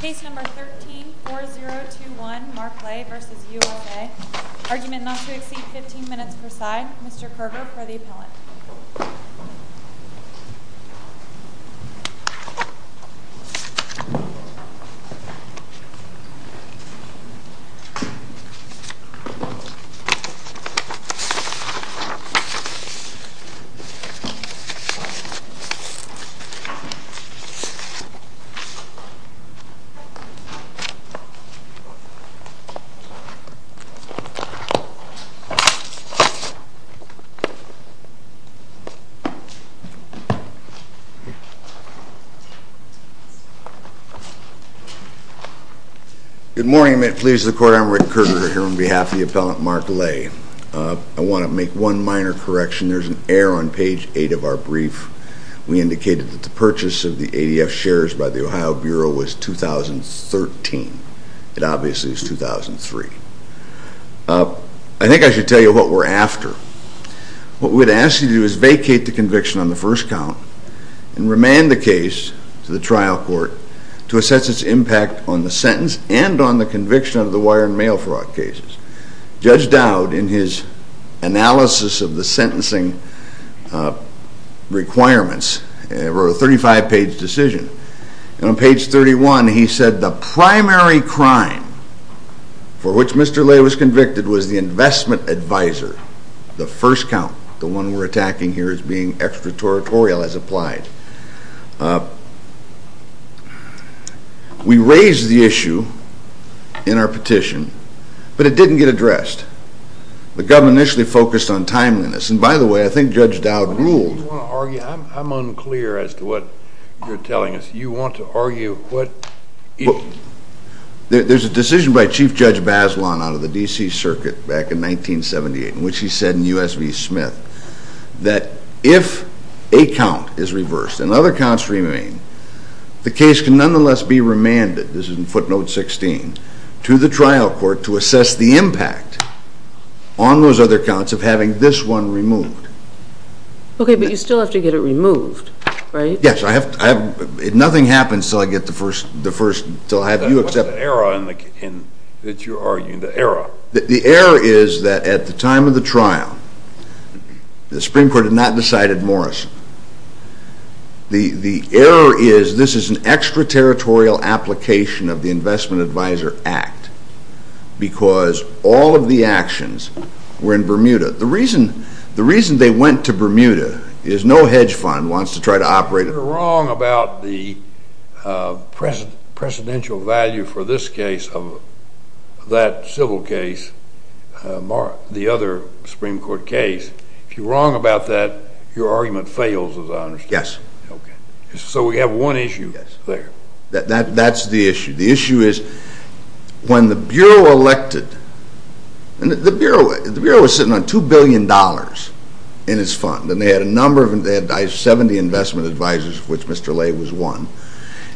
Case number 13-4021 Mark Lay v. U.S.A. Argument not to exceed 15 minutes per side. Mr. Kerger for the appellant. Good morning. I'm Rick Kerger here on behalf of the appellant Mark Lay. I want to make one minor correction. There's an error on page 8 of our brief. We indicated that the ADF shares by the Ohio Bureau was 2013. It obviously is 2003. I think I should tell you what we're after. What we'd ask you to do is vacate the conviction on the first count and remand the case to the trial court to assess its impact on the sentence and on the conviction of the wire and mail fraud cases. Judge Dowd, in his analysis of the sentencing requirements, wrote a 35-page decision. On page 31 he said the primary crime for which Mr. Lay was convicted was the investment advisor, the first count. The one we're attacking here as being extraterritorial as applied. We raised the issue in our petition, but it didn't get addressed. The government initially focused on timeliness. By the way, I think Judge Dowd ruled... I'm unclear as to what you're telling us. You want to argue what... There's a decision by Chief Judge Bazelon out of the D.C. Circuit back in 1978 in which he said in U.S. v. Smith that if a count is reversed and other counts remain, the case can nonetheless be remanded, this is in footnote 16, to the trial court to assess the impact on those other counts of having this one removed. Okay, but you still have to get it removed, right? Yes, I have... Nothing happens until I get the first... What's the error that you're arguing, the error? The error is that at the time of the trial, the Supreme Court had not decided Morrison. The error is this is an extraterritorial application of the Investment Advisor Act because all of the actions were in Bermuda. The reason they went to Bermuda is no hedge fund wants to try to operate... You're wrong about the precedential value for this case of that civil case, the other Supreme Court case. If you're wrong about that, your argument fails as I understand it. Yes. So we have one issue there. That's the issue. The issue is when the Bureau elected, and the Bureau was sitting on $2 billion in its fund, and they had a number of... They had 70 investment advisors, of which Mr. Lay was one,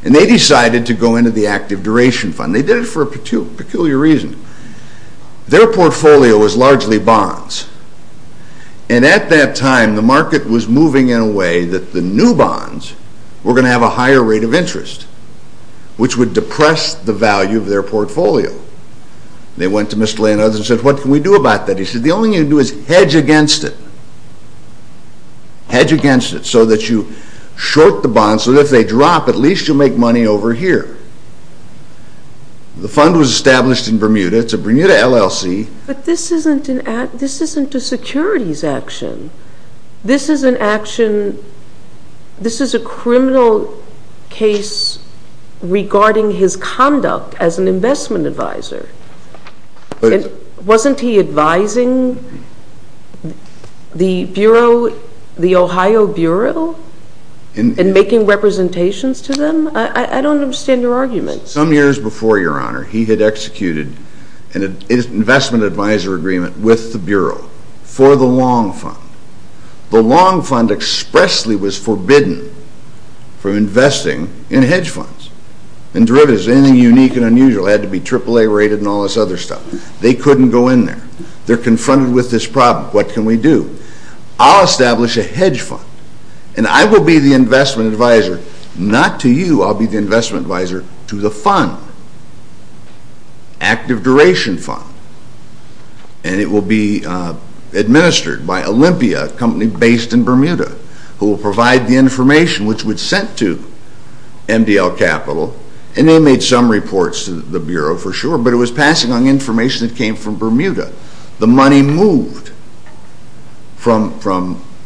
and they decided to go into the Active Duration Fund. They did it for a peculiar reason. Their portfolio was largely bonds, and at that time, the market was moving in a way that the new bonds were going to have a higher rate of interest, which would depress the value of their portfolio. They went to Mr. Lay and others and said, what can we do about that? He said, the only thing you can do is hedge against it. Hedge against it, so that you short the bonds, so that if they drop, at least you'll make money over here. The fund was established in Bermuda. It's a Bermuda LLC. But this isn't a securities action. This is an action... This is a criminal case regarding his conduct as an investment advisor. Wasn't he advising the Bureau, the Ohio Bureau, in making representations to them? I don't understand your argument. Some years before, Your Honor, he had executed an investment advisor agreement with the Bureau for the Long Fund. The Long Fund expressly was forbidden from investing in hedge funds. In derivatives, anything unique and unusual had to be AAA rated and all this other stuff. They couldn't go in there. They're confronted with this problem. What can we do? I'll establish a hedge fund, and I will be the investment advisor to the fund, Active Duration Fund, and it will be administered by Olympia, a company based in Bermuda, who will provide the information, which was sent to MDL Capital, and they made some reports to the Bureau for sure, but it was passing on information that came from Bermuda. The money moved from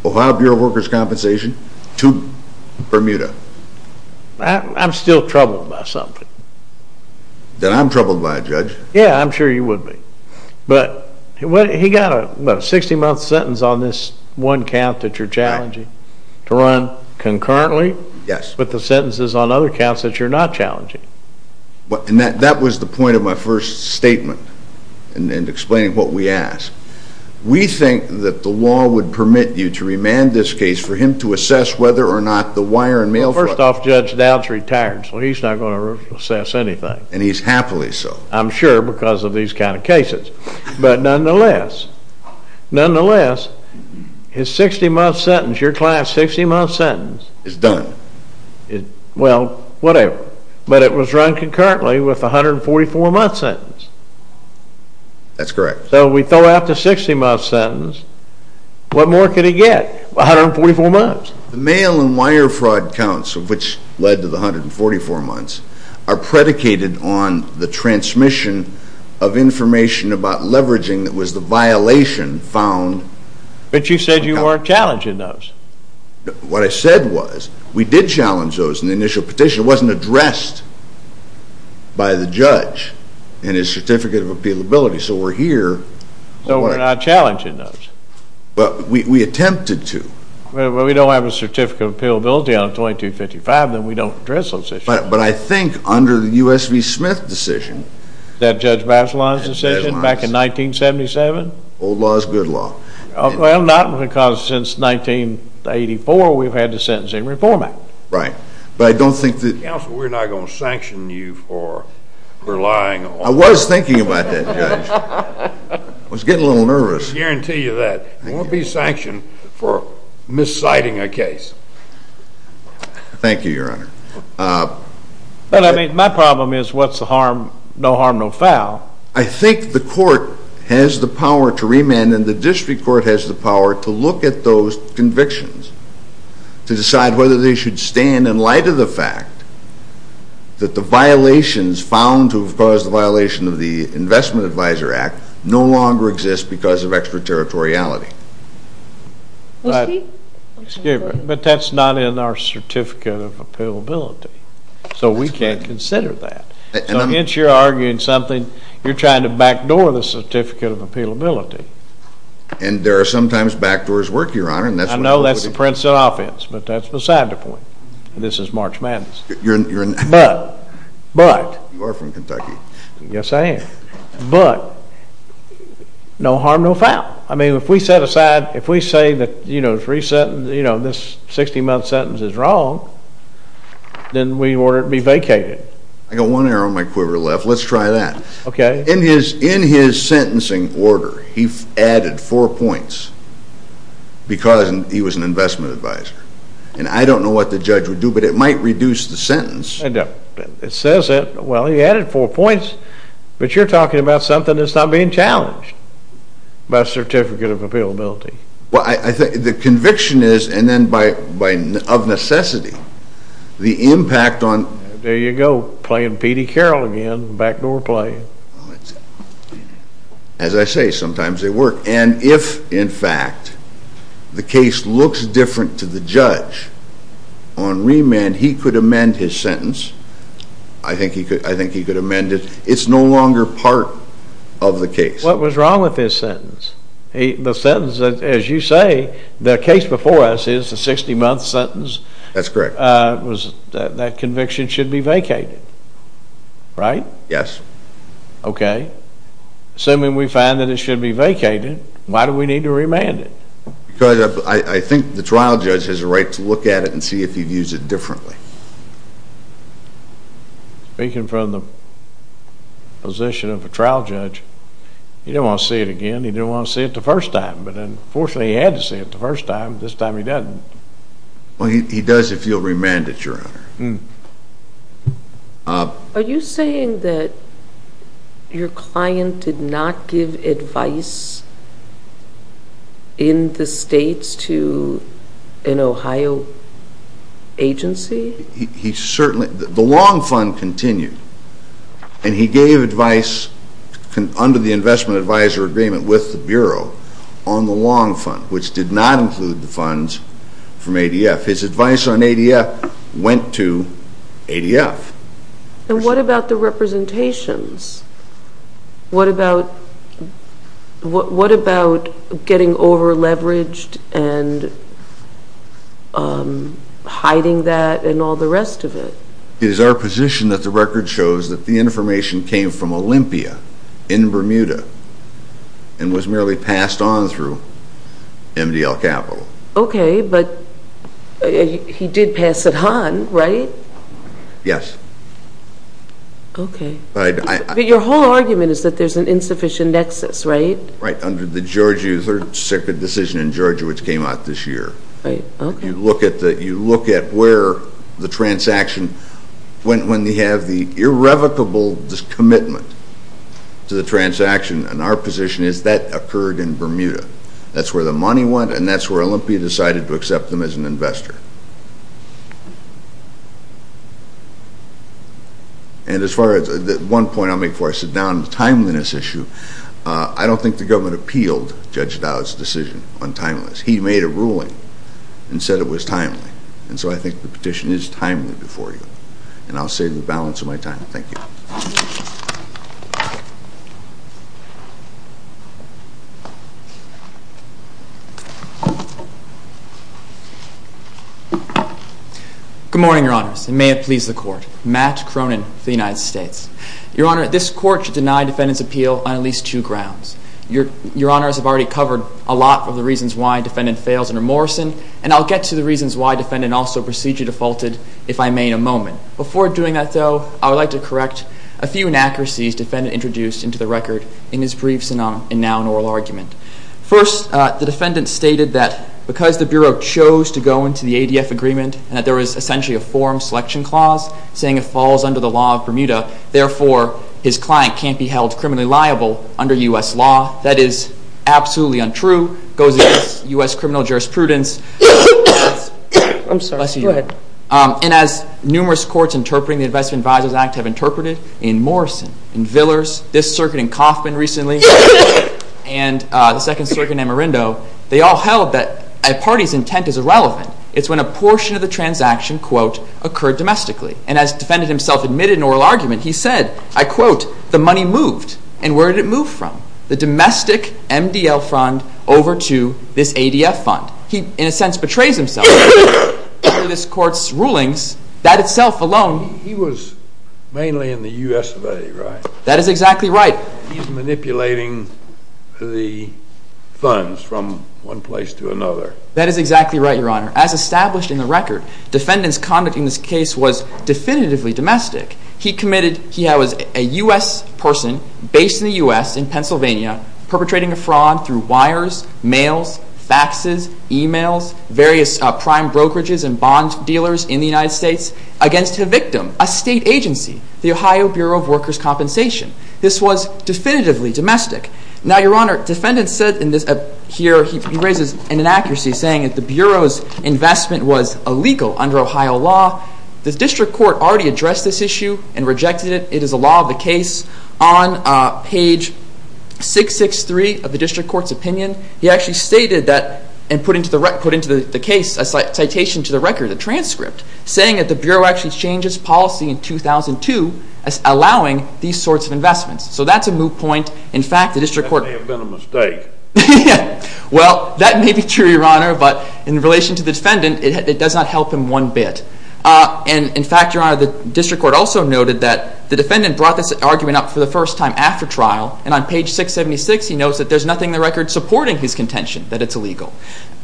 Ohio Bureau of Workers' Compensation to Bermuda. I'm still troubled by something. Then I'm troubled by it, Judge. Yeah, I'm sure you would be. But he got a 60-month sentence on this one count that you're challenging to run concurrently. Yes. But the sentences on other counts that you're not challenging. And that was the point of my first statement in explaining what we asked. We think that the law would permit you to remand this case for him to assess whether or not the wire and mail... First off, Judge Dowd's retired, so he's not going to assess anything. And he's happily so. I'm sure because of these kind of cases. But nonetheless, nonetheless, his 60-month sentence, your client's 60-month sentence... Is done. Well, whatever. But it was run concurrently with the 144-month sentence. That's correct. So we throw out the 60-month sentence. What more could he get? 144 months. The mail and wire fraud counts, which led to the 144 months, are predicated on the transmission of information about leveraging that was the violation found... But you said you weren't challenging those. What I said was, we did challenge those in the initial petition. It wasn't addressed by the judge in his certificate of appealability. So we're not challenging those. But we attempted to. Well, we don't have a certificate of appealability on 2255, then we don't address those issues. But I think under the U.S. v. Smith decision... That Judge Bachelon's decision back in 1977? Old law is good law. Well, not because since 1984, we've had the Sentencing Reform Act. Right. But I don't think that... Counsel, we're not going to sanction you for relying on... I was thinking about that, Judge. I was getting a little nervous. I guarantee you that. We won't be sanctioned for misciting a case. Thank you, Your Honor. But I mean, my problem is, what's the harm, no harm, no foul? I think the court has the power to remand, and the district court has the power to look at those convictions, to decide whether they should stand in light of the fact that the violations found to have caused the violation of the Investment Advisor Act no longer exist because of extraterritoriality. But that's not in our certificate of appealability. So we can't consider that. So hence, you're arguing something, you're trying to backdoor the certificate of appealability. And there are two sides to a point. And this is March Madness. You're in... But, but... You are from Kentucky. Yes, I am. But, no harm, no foul. I mean, if we set aside, if we say that, you know, this 60-month sentence is wrong, then we order it be vacated. I got one arrow in my quiver left. Let's try that. Okay. In his sentencing order, he added four points because he was an investment advisor. And I don't know what the judge would do, but it might reduce the sentence. It says that. Well, he added four points. But you're talking about something that's not being challenged by a certificate of appealability. Well, I think the conviction is, and then by, of necessity, the impact on... There you go, playing P.D. Carroll again, backdoor play. As I say, sometimes they work. And if, in fact, the case looks different to the judge on remand, he could amend his sentence. I think he could amend it. It's no longer part of the case. What was wrong with his sentence? The sentence, as you say, the case before us is a 60-month sentence. That's correct. That conviction should be vacated, right? Yes. Okay. Assuming we find that it should be vacated, why do we need to remand it? Because I think the trial judge has a right to look at it and see if he views it differently. Speaking from the position of a trial judge, he didn't want to see it again. He didn't want to see it the first time. But then, fortunately, he had to see it the first time. This time he doesn't. Well, he does if you'll remand it, Your Honor. Are you saying that your client did not give advice in the States to an Ohio agency? He certainly... The long fund continued. And he gave advice under the investment advisor agreement with the Bureau on the long fund, which did not include the funds from ADF, went to ADF. And what about the representations? What about getting over leveraged and hiding that and all the rest of it? It is our position that the record shows that the information came from Olympia in Bermuda and was merely passed on through MDL Capital. Okay, but he did pass it on, right? Yes. Okay. But your whole argument is that there's an insufficient nexus, right? Right, under the Georgia Third Circuit decision in Georgia, which came out this year. Okay. You look at where the transaction went when they have the irrevocable discommitment to the transaction, and our position is that occurred in Bermuda. That's where the money went, and that's where Olympia decided to accept them as an investor. And as far as, one point I'll make before I sit down on the timeliness issue, I don't think the petition is timely before you. And I'll save the balance of my time. Thank you. Good morning, Your Honors, and may it please the Court. Matt Cronin for the United States. Your Honor, this Court should deny defendant's appeal on at least two grounds. Your Honors have already covered a lot of the reasons why a defendant fails in a procedure defaulted, if I may, in a moment. Before doing that, though, I would like to correct a few inaccuracies defendant introduced into the record in his briefs and now in oral argument. First, the defendant stated that because the Bureau chose to go into the ADF agreement, and that there was essentially a forum selection clause, saying it falls under the law of Bermuda, therefore his client can't be held criminally liable under U.S. law. That is absolutely untrue, goes against U.S. criminal jurisprudence. And as numerous courts interpreting the Investment Advisors Act have interpreted in Morrison, in Villers, this circuit in Coffman recently, and the second circuit in Amarindo, they all held that a party's intent is irrelevant. It's when a portion of the transaction, quote, occurred domestically. And as defendant himself admitted in oral argument, he said, I quote, the money moved. And where did it move from? The domestic MDL fund over to this ADF fund. He, in a sense, betrays himself. Under this court's rulings, that itself alone... He was mainly in the U.S. of A, right? That is exactly right. He's manipulating the funds from one place to another. That is exactly right, Your Honor. As established in the record, defendant's conduct in this case was definitively domestic. He committed... He was a U.S. person, based in the U.S., in Pennsylvania, perpetrating a fraud through wires, mails, faxes, emails, various prime brokerages and bond dealers in the United States, against a victim, a state agency, the Ohio Bureau of Workers' Compensation. This was definitively domestic. Now, Your Honor, defendant said in this, here, he raises an inaccuracy, saying that the Bureau's investment was illegal under Ohio law. The district court already addressed this issue and rejected it. It is a law of the case. On page 663 of the district court's opinion, he actually stated that, and put into the case, a citation to the record, a transcript, saying that the Bureau actually changed its policy in 2002, allowing these sorts of investments. So that's a moot point. In fact, the district court... That may have been a mistake. Well, that may be true, Your Honor, but in relation to the defendant, it does not help him one bit. And, in fact, Your Honor, the district court also noted that the defendant brought this argument up for the first time after trial, and on page 676, he notes that there's nothing in the record supporting his contention that it's illegal.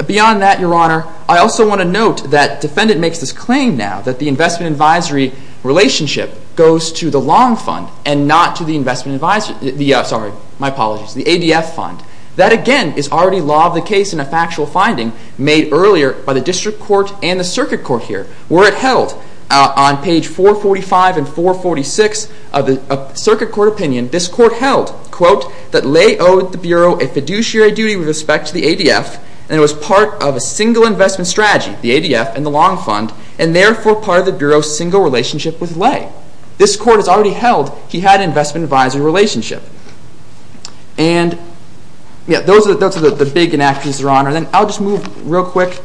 Beyond that, Your Honor, I also want to note that defendant makes this claim now, that the investment advisory relationship goes to the long fund and not to the investment advisory... Sorry, my apologies, the ADF fund. That, again, is already law of the case in a factual finding made earlier by the district court and the circuit court here, where it held, on page 445 and 446 of the circuit court opinion, this court held, quote, that Leigh owed the Bureau a fiduciary duty with respect to the ADF, and it was part of a single investment strategy, the ADF and the long fund, and therefore part of the Bureau's single relationship with Leigh. This court has already held he had an investment advisory relationship. And, yeah, those are the big inaccuracies, Your Honor. Then I'll just move real quick,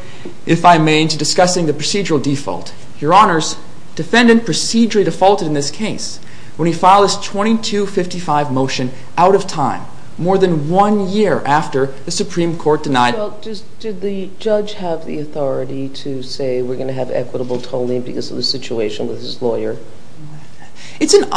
if I may, to discussing the procedural default. Your Honors, defendant procedurally defaulted in this case when he filed his 2255 motion out of time, more than one year after the Supreme Court denied... Well, just did the judge have the authority to say we're going to have equitable tolling because of the situation with his lawyer? It's an...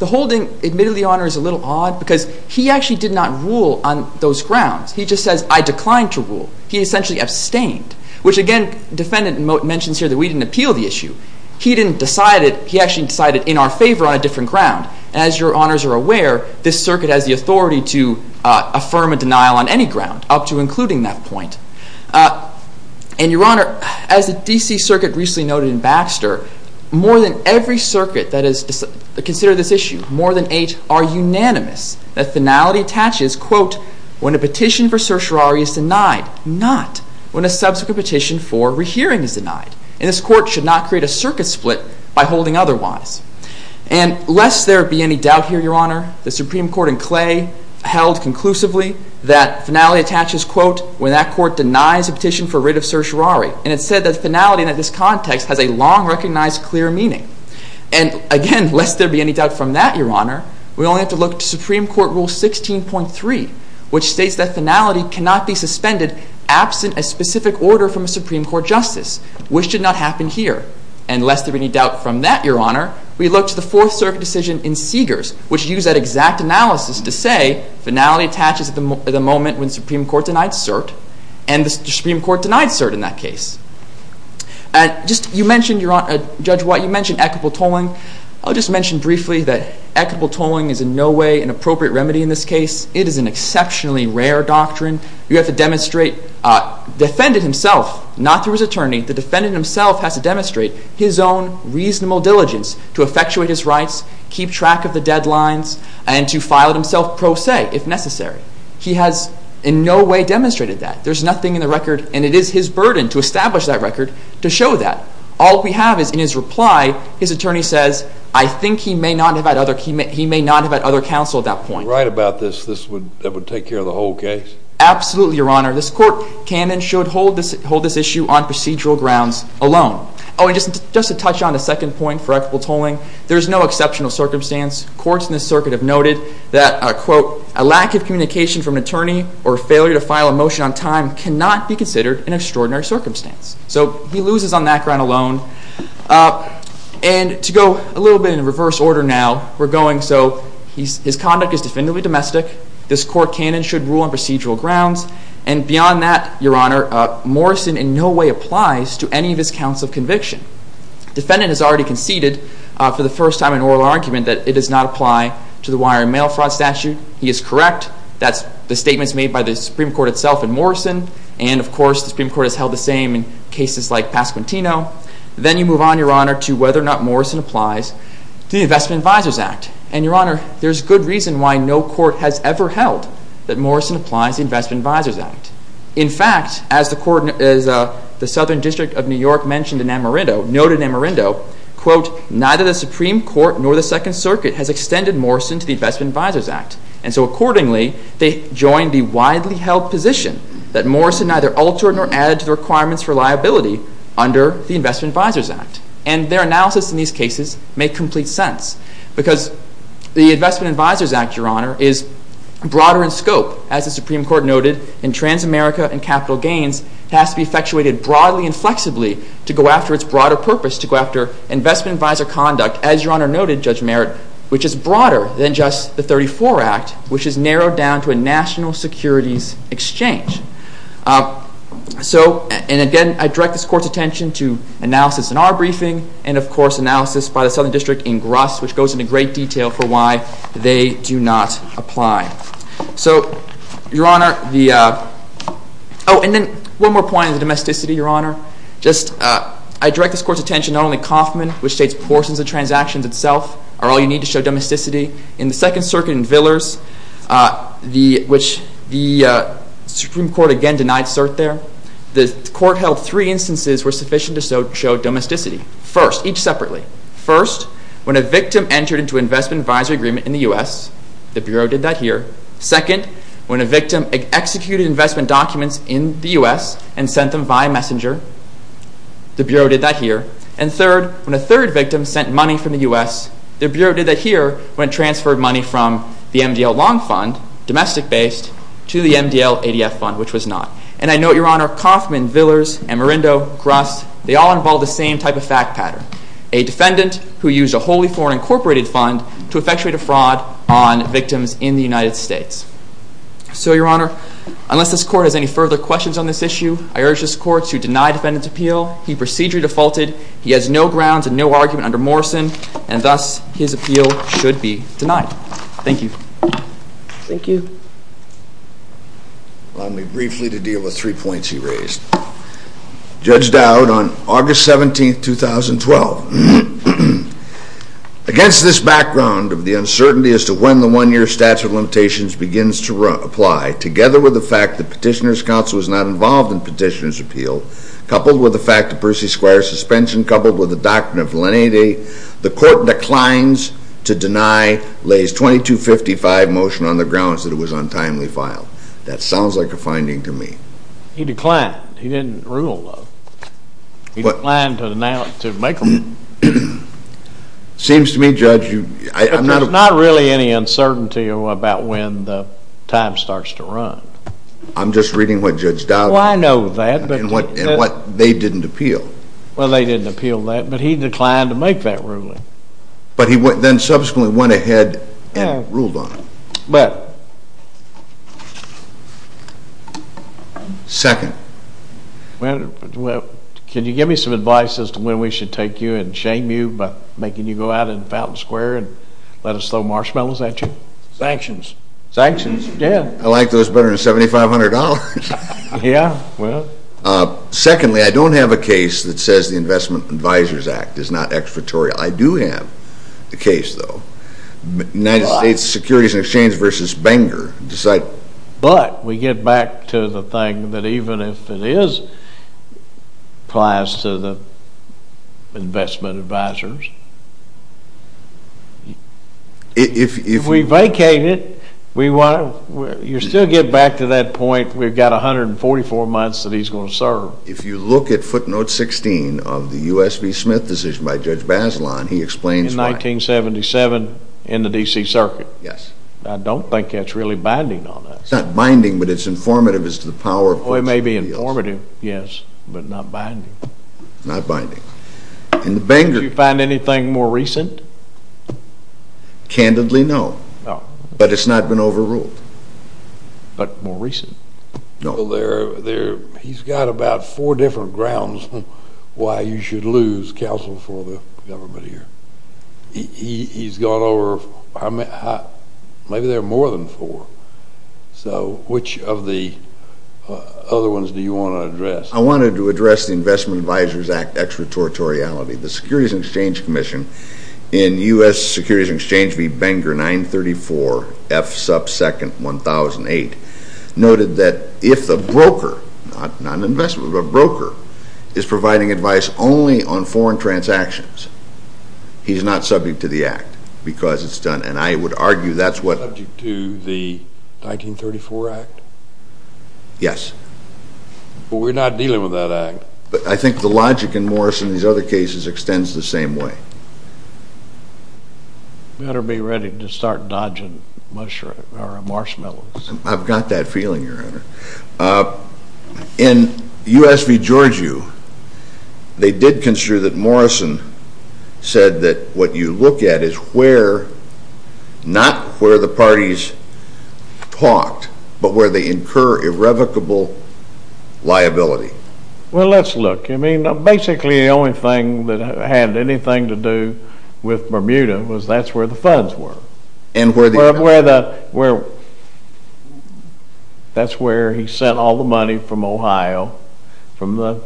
The holding, admittedly, Your Honor, is a little odd because he actually did not rule on those grounds. He just says, I declined to rule. He essentially abstained, which, again, defendant mentions here that we didn't appeal the issue. He didn't decide it. He actually decided in our favor on a different ground. And as Your Honors are aware, this circuit has the authority to affirm a denial on any ground, up to including that point. And, Your Honor, as the D.C. Circuit recently noted in Baxter, more than every circuit that has considered this issue, more than eight are unanimous that finality attaches, quote, when a petition for certiorari is denied, not when a subsequent petition for rehearing is denied. And this court should not create a circuit split by holding otherwise. And lest there be any doubt here, Your Honor, the Supreme Court in Clay held conclusively that finality attaches, quote, when that court denies a petition for writ of certiorari. And it said that finality in this context has a long-recognized clear meaning. And, again, lest there be any doubt from that, Your Honor, we only have to look to Supreme Court Rule 16.3, which states that finality cannot be suspended absent a specific order from a Supreme Court justice, which did not happen here. And lest there be any doubt from that, Your Honor, we look to the fourth circuit decision in Seegers, which used that exact analysis to say finality attaches at the moment when the Supreme Court denied cert, and the Supreme Court denied cert in that case. And just, you mentioned, Your Honor, Judge White, you mentioned equitable tolling. I'll just mention briefly that equitable tolling is in no way an appropriate remedy in this case. It is an exceptionally rare doctrine. You have to demonstrate, the defendant himself, not through his attorney, the defendant himself has to demonstrate his own reasonable diligence to effectuate his rights, keep track of the deadlines, and to file it himself pro se if necessary. He has in no way demonstrated that. There's nothing in the record, and it is his burden to establish that record to show that. All we have is in his reply, his attorney says, I think he may not have had other counsel at that point. If he was right about this, this would take care of the whole case? Absolutely, Your Honor. This court canon should hold this issue on procedural grounds alone. Oh, and just to touch on the second point for equitable tolling, there's no exceptional circumstance. Courts in this circuit have noted that, quote, a lack of communication from an attorney or failure to file a motion on time cannot be considered an extraordinary circumstance. So he loses on that ground alone. And to go a little bit in reverse order now, we're going so, his conduct is definitively domestic. This court canon should rule on procedural grounds. And beyond that, Your Honor, Morrison in no way applies to any of his counts of conviction. Defendant has already conceded for the first time in oral argument that it does not apply to the wire and mail fraud statute. He is correct. That's the statements made by the Supreme Court itself and Morrison. And, of course, the Supreme Court has held the same in cases like Pasquantino. Then you move on, Your Honor, to whether or not Morrison applies to the Investment Advisers Act. And, Your Honor, there's good reason why no court has ever held that Morrison applies to the Investment Advisers Act. In fact, as the Southern District of New York mentioned in Amarindo, noted in Amarindo, quote, neither the Supreme Court nor the Second Circuit has extended Morrison to the Investment Advisers Act. And so accordingly, they join the widely held position that Morrison neither altered nor added to the requirements for liability under the Investment Advisers Act. And their analysis in these cases make complete sense. Because the Investment Advisers Act, Your Honor, is broader in scope, as the Supreme Court noted, in trans-America and capital gains has to be effectuated broadly and flexibly to go after its broader purpose, to go after investment advisor conduct, as Your Honor noted, Judge Merritt, which is broader than just the 34 Act, which is narrowed down to a national securities exchange. So, and again, I direct this Court's attention to analysis in our briefing, and, of course, analysis by the Southern District in Gruss, which goes into great detail for why they do not apply. So, Your Honor, the, oh, and then one more point on the domesticity, Your Honor. Just, I direct this Court's attention not only to Kauffman, which states portions of transactions itself are all you need to show domesticity. In the Second Circuit in Villers, which the Supreme Court again denied cert there, the Court held three instances were sufficient to show domesticity. First, each separately. First, when a victim entered into an investment advisor agreement in the U.S., the Bureau did that here. Second, when a victim executed investment documents in the U.S. and sent them via messenger, the Bureau did that here. And third, when a third victim sent money from the U.S., the Bureau did that here, when it transferred money from the MDL Long Fund, domestic-based, to the MDL ADF Fund, which was not. And I note, Your Honor, Kauffman, Villers, and Marindo, Gruss, they all involve the same type of fact pattern. A defendant who used a wholly foreign incorporated fund to effectuate a fraud on victims in the United States. So, Your Honor, unless this Court has any further questions on this issue, I urge this Court to deny defendant's appeal. He procedurally defaulted. He has no grounds and no argument under Morrison, and thus his appeal should be denied. Thank you. Thank you. Allow me briefly to deal with three points he raised. Judge Dowd on August 17, 2012. Against this background of the uncertainty as to when the one-year statute of limitations begins to apply, together with the fact that Petitioner's Counsel is not involved in Petitioner's Appeal, coupled with the fact that Percy Squire's suspension, coupled with the doctrine of lenity, the Court declines to deny Lays 2255 motion on the grounds that it was untimely filed. That sounds like a finding to me. He declined. He didn't rule, though. He declined to make a ruling. Seems to me, Judge, I'm not... There's not really any uncertainty about when the time starts to run. I'm just reading what Judge Dowd... Oh, I know that, but... And what they didn't appeal. Well, they didn't appeal that, but he declined to make that ruling. But he then subsequently went ahead and ruled on it. But... Second. Well, can you give me some advice as to when we should take you and shame you by making you go out in Fountain Square and let us throw marshmallows at you? Sanctions. Sanctions? Yeah. I like those better than $7,500. Yeah, well... Secondly, I don't have a case that says the Investment Advisors Act is not expertorial. I do have the case, though. United States Securities and Exchange v. Banger decide... But we get back to the thing that even if it is applies to the investment advisors... If we vacate it, we want to... You still get back to that point, we've got 144 months that he's going to serve. If you look at footnote 16 of the U.S. v. Smith decision by Judge Bazelon, he explains why... In 1977, in the D.C. Circuit. Yes. I don't think that's really binding on us. It's not binding, but it's informative as to the power... Well, it may be informative, yes, but not binding. Not binding. In the Banger... Did you find anything more recent? Candidly, no. But it's not been overruled. But more recent? No. He's got about four different grounds why you should lose counsel for the government here. He's gone over... Maybe there are more than four. So, which of the other ones do you want to address? I wanted to address the Investment Advisors Act extraterritoriality. The Securities and Exchange Commission, in U.S. Securities and Exchange v. Banger 934 F. Sub. 2nd. 1008, noted that if the broker, not an investment, but a broker, is providing advice only on foreign transactions, he's not subject to the Act because it's done. And I would argue that's what... Subject to the 1934 Act? Yes. But we're not dealing with that Act. But I think the logic in Morrison and these other cases extends the same way. You better be ready to start dodging marshmallows. I've got that feeling, Your Honor. In U.S. v. Georgiou, they did construe that Morrison said that what you look at is where, not where the parties talked, but where they incur irrevocable liability. Well, let's look. I mean, basically the only thing that had anything to do with Bermuda was that's where the funds were. And where the... That's where he sent all the money from Ohio, from the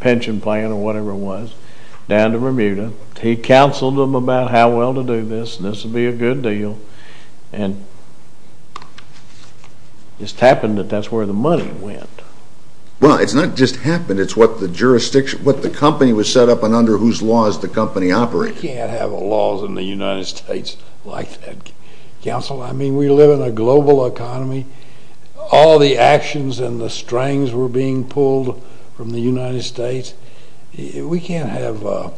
pension plan or whatever it was, down to Bermuda. He counseled them about how well to do this and this would be a good deal. And it just happened that that's where the money went. Well, it's not just happened. It's what the company was set up and under whose laws the company operated. You can't have laws in the United States like that, counsel. I mean, we live in a global economy. All the actions and the strings were being pulled from the United States. We can't have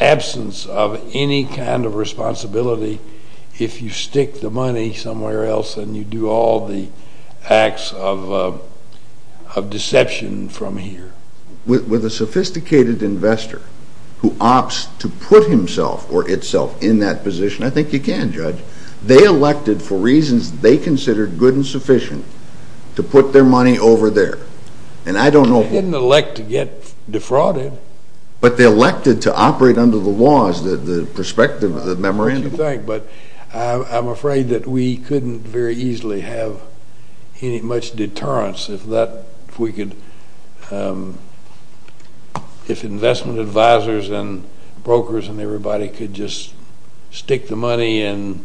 absence of any kind of responsibility if you stick the money somewhere else and you do all the acts of deception from here. With a sophisticated investor who opts to put himself or itself in that position, I think you can, Judge. They elected for reasons they considered good and sufficient to put their money over there. And I don't know... They didn't elect to get defrauded. But they elected to operate under the laws, the perspective of the memorandum. That's what you think. But I'm afraid that we couldn't very easily have any much deterrence if investment advisors and brokers and everybody could just stick the money in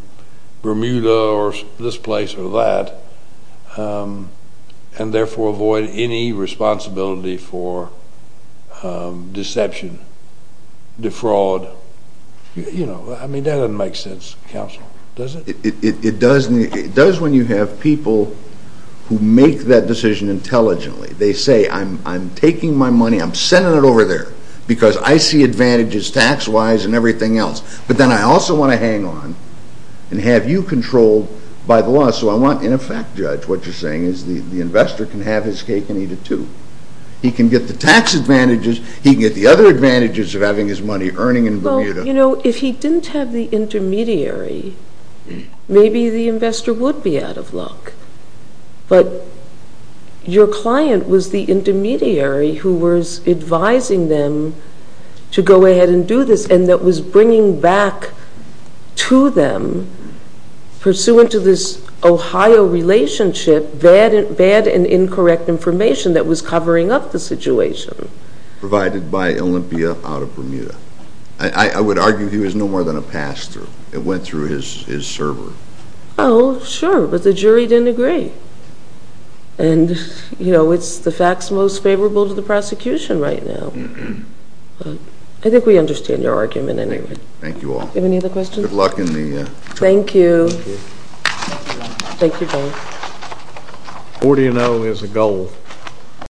Bermuda or this place or that and therefore avoid any responsibility for deception, defraud. You know, I mean, that doesn't make sense, counsel, does it? It does when you have people who make that decision intelligently. They say, I'm taking my money, I'm sending it over there because I see advantages tax-wise and everything else. But then I also want to hang on and have you controlled by the law. So I want, in effect, Judge, what you're saying is the investor can have his cake and eat it too. He can get the tax advantages, he can get the other advantages of having his money earning in Bermuda. Well, you know, if he didn't have the intermediary, maybe the investor would be out of luck. But your client was the intermediary who was advising them to go ahead and do this and that was bringing back to them, pursuant to this Ohio relationship, bad and incorrect information that was covering up the situation. Provided by Olympia out of Bermuda. I would argue he was no more than a pastor. It went through his server. Oh, sure, but the jury didn't agree. And, you know, it's the facts most favorable to the prosecution right now. I think we understand your argument anyway. Thank you all. Any other questions? Good luck in the... Thank you. Thank you both. 40 and 0 is a goal.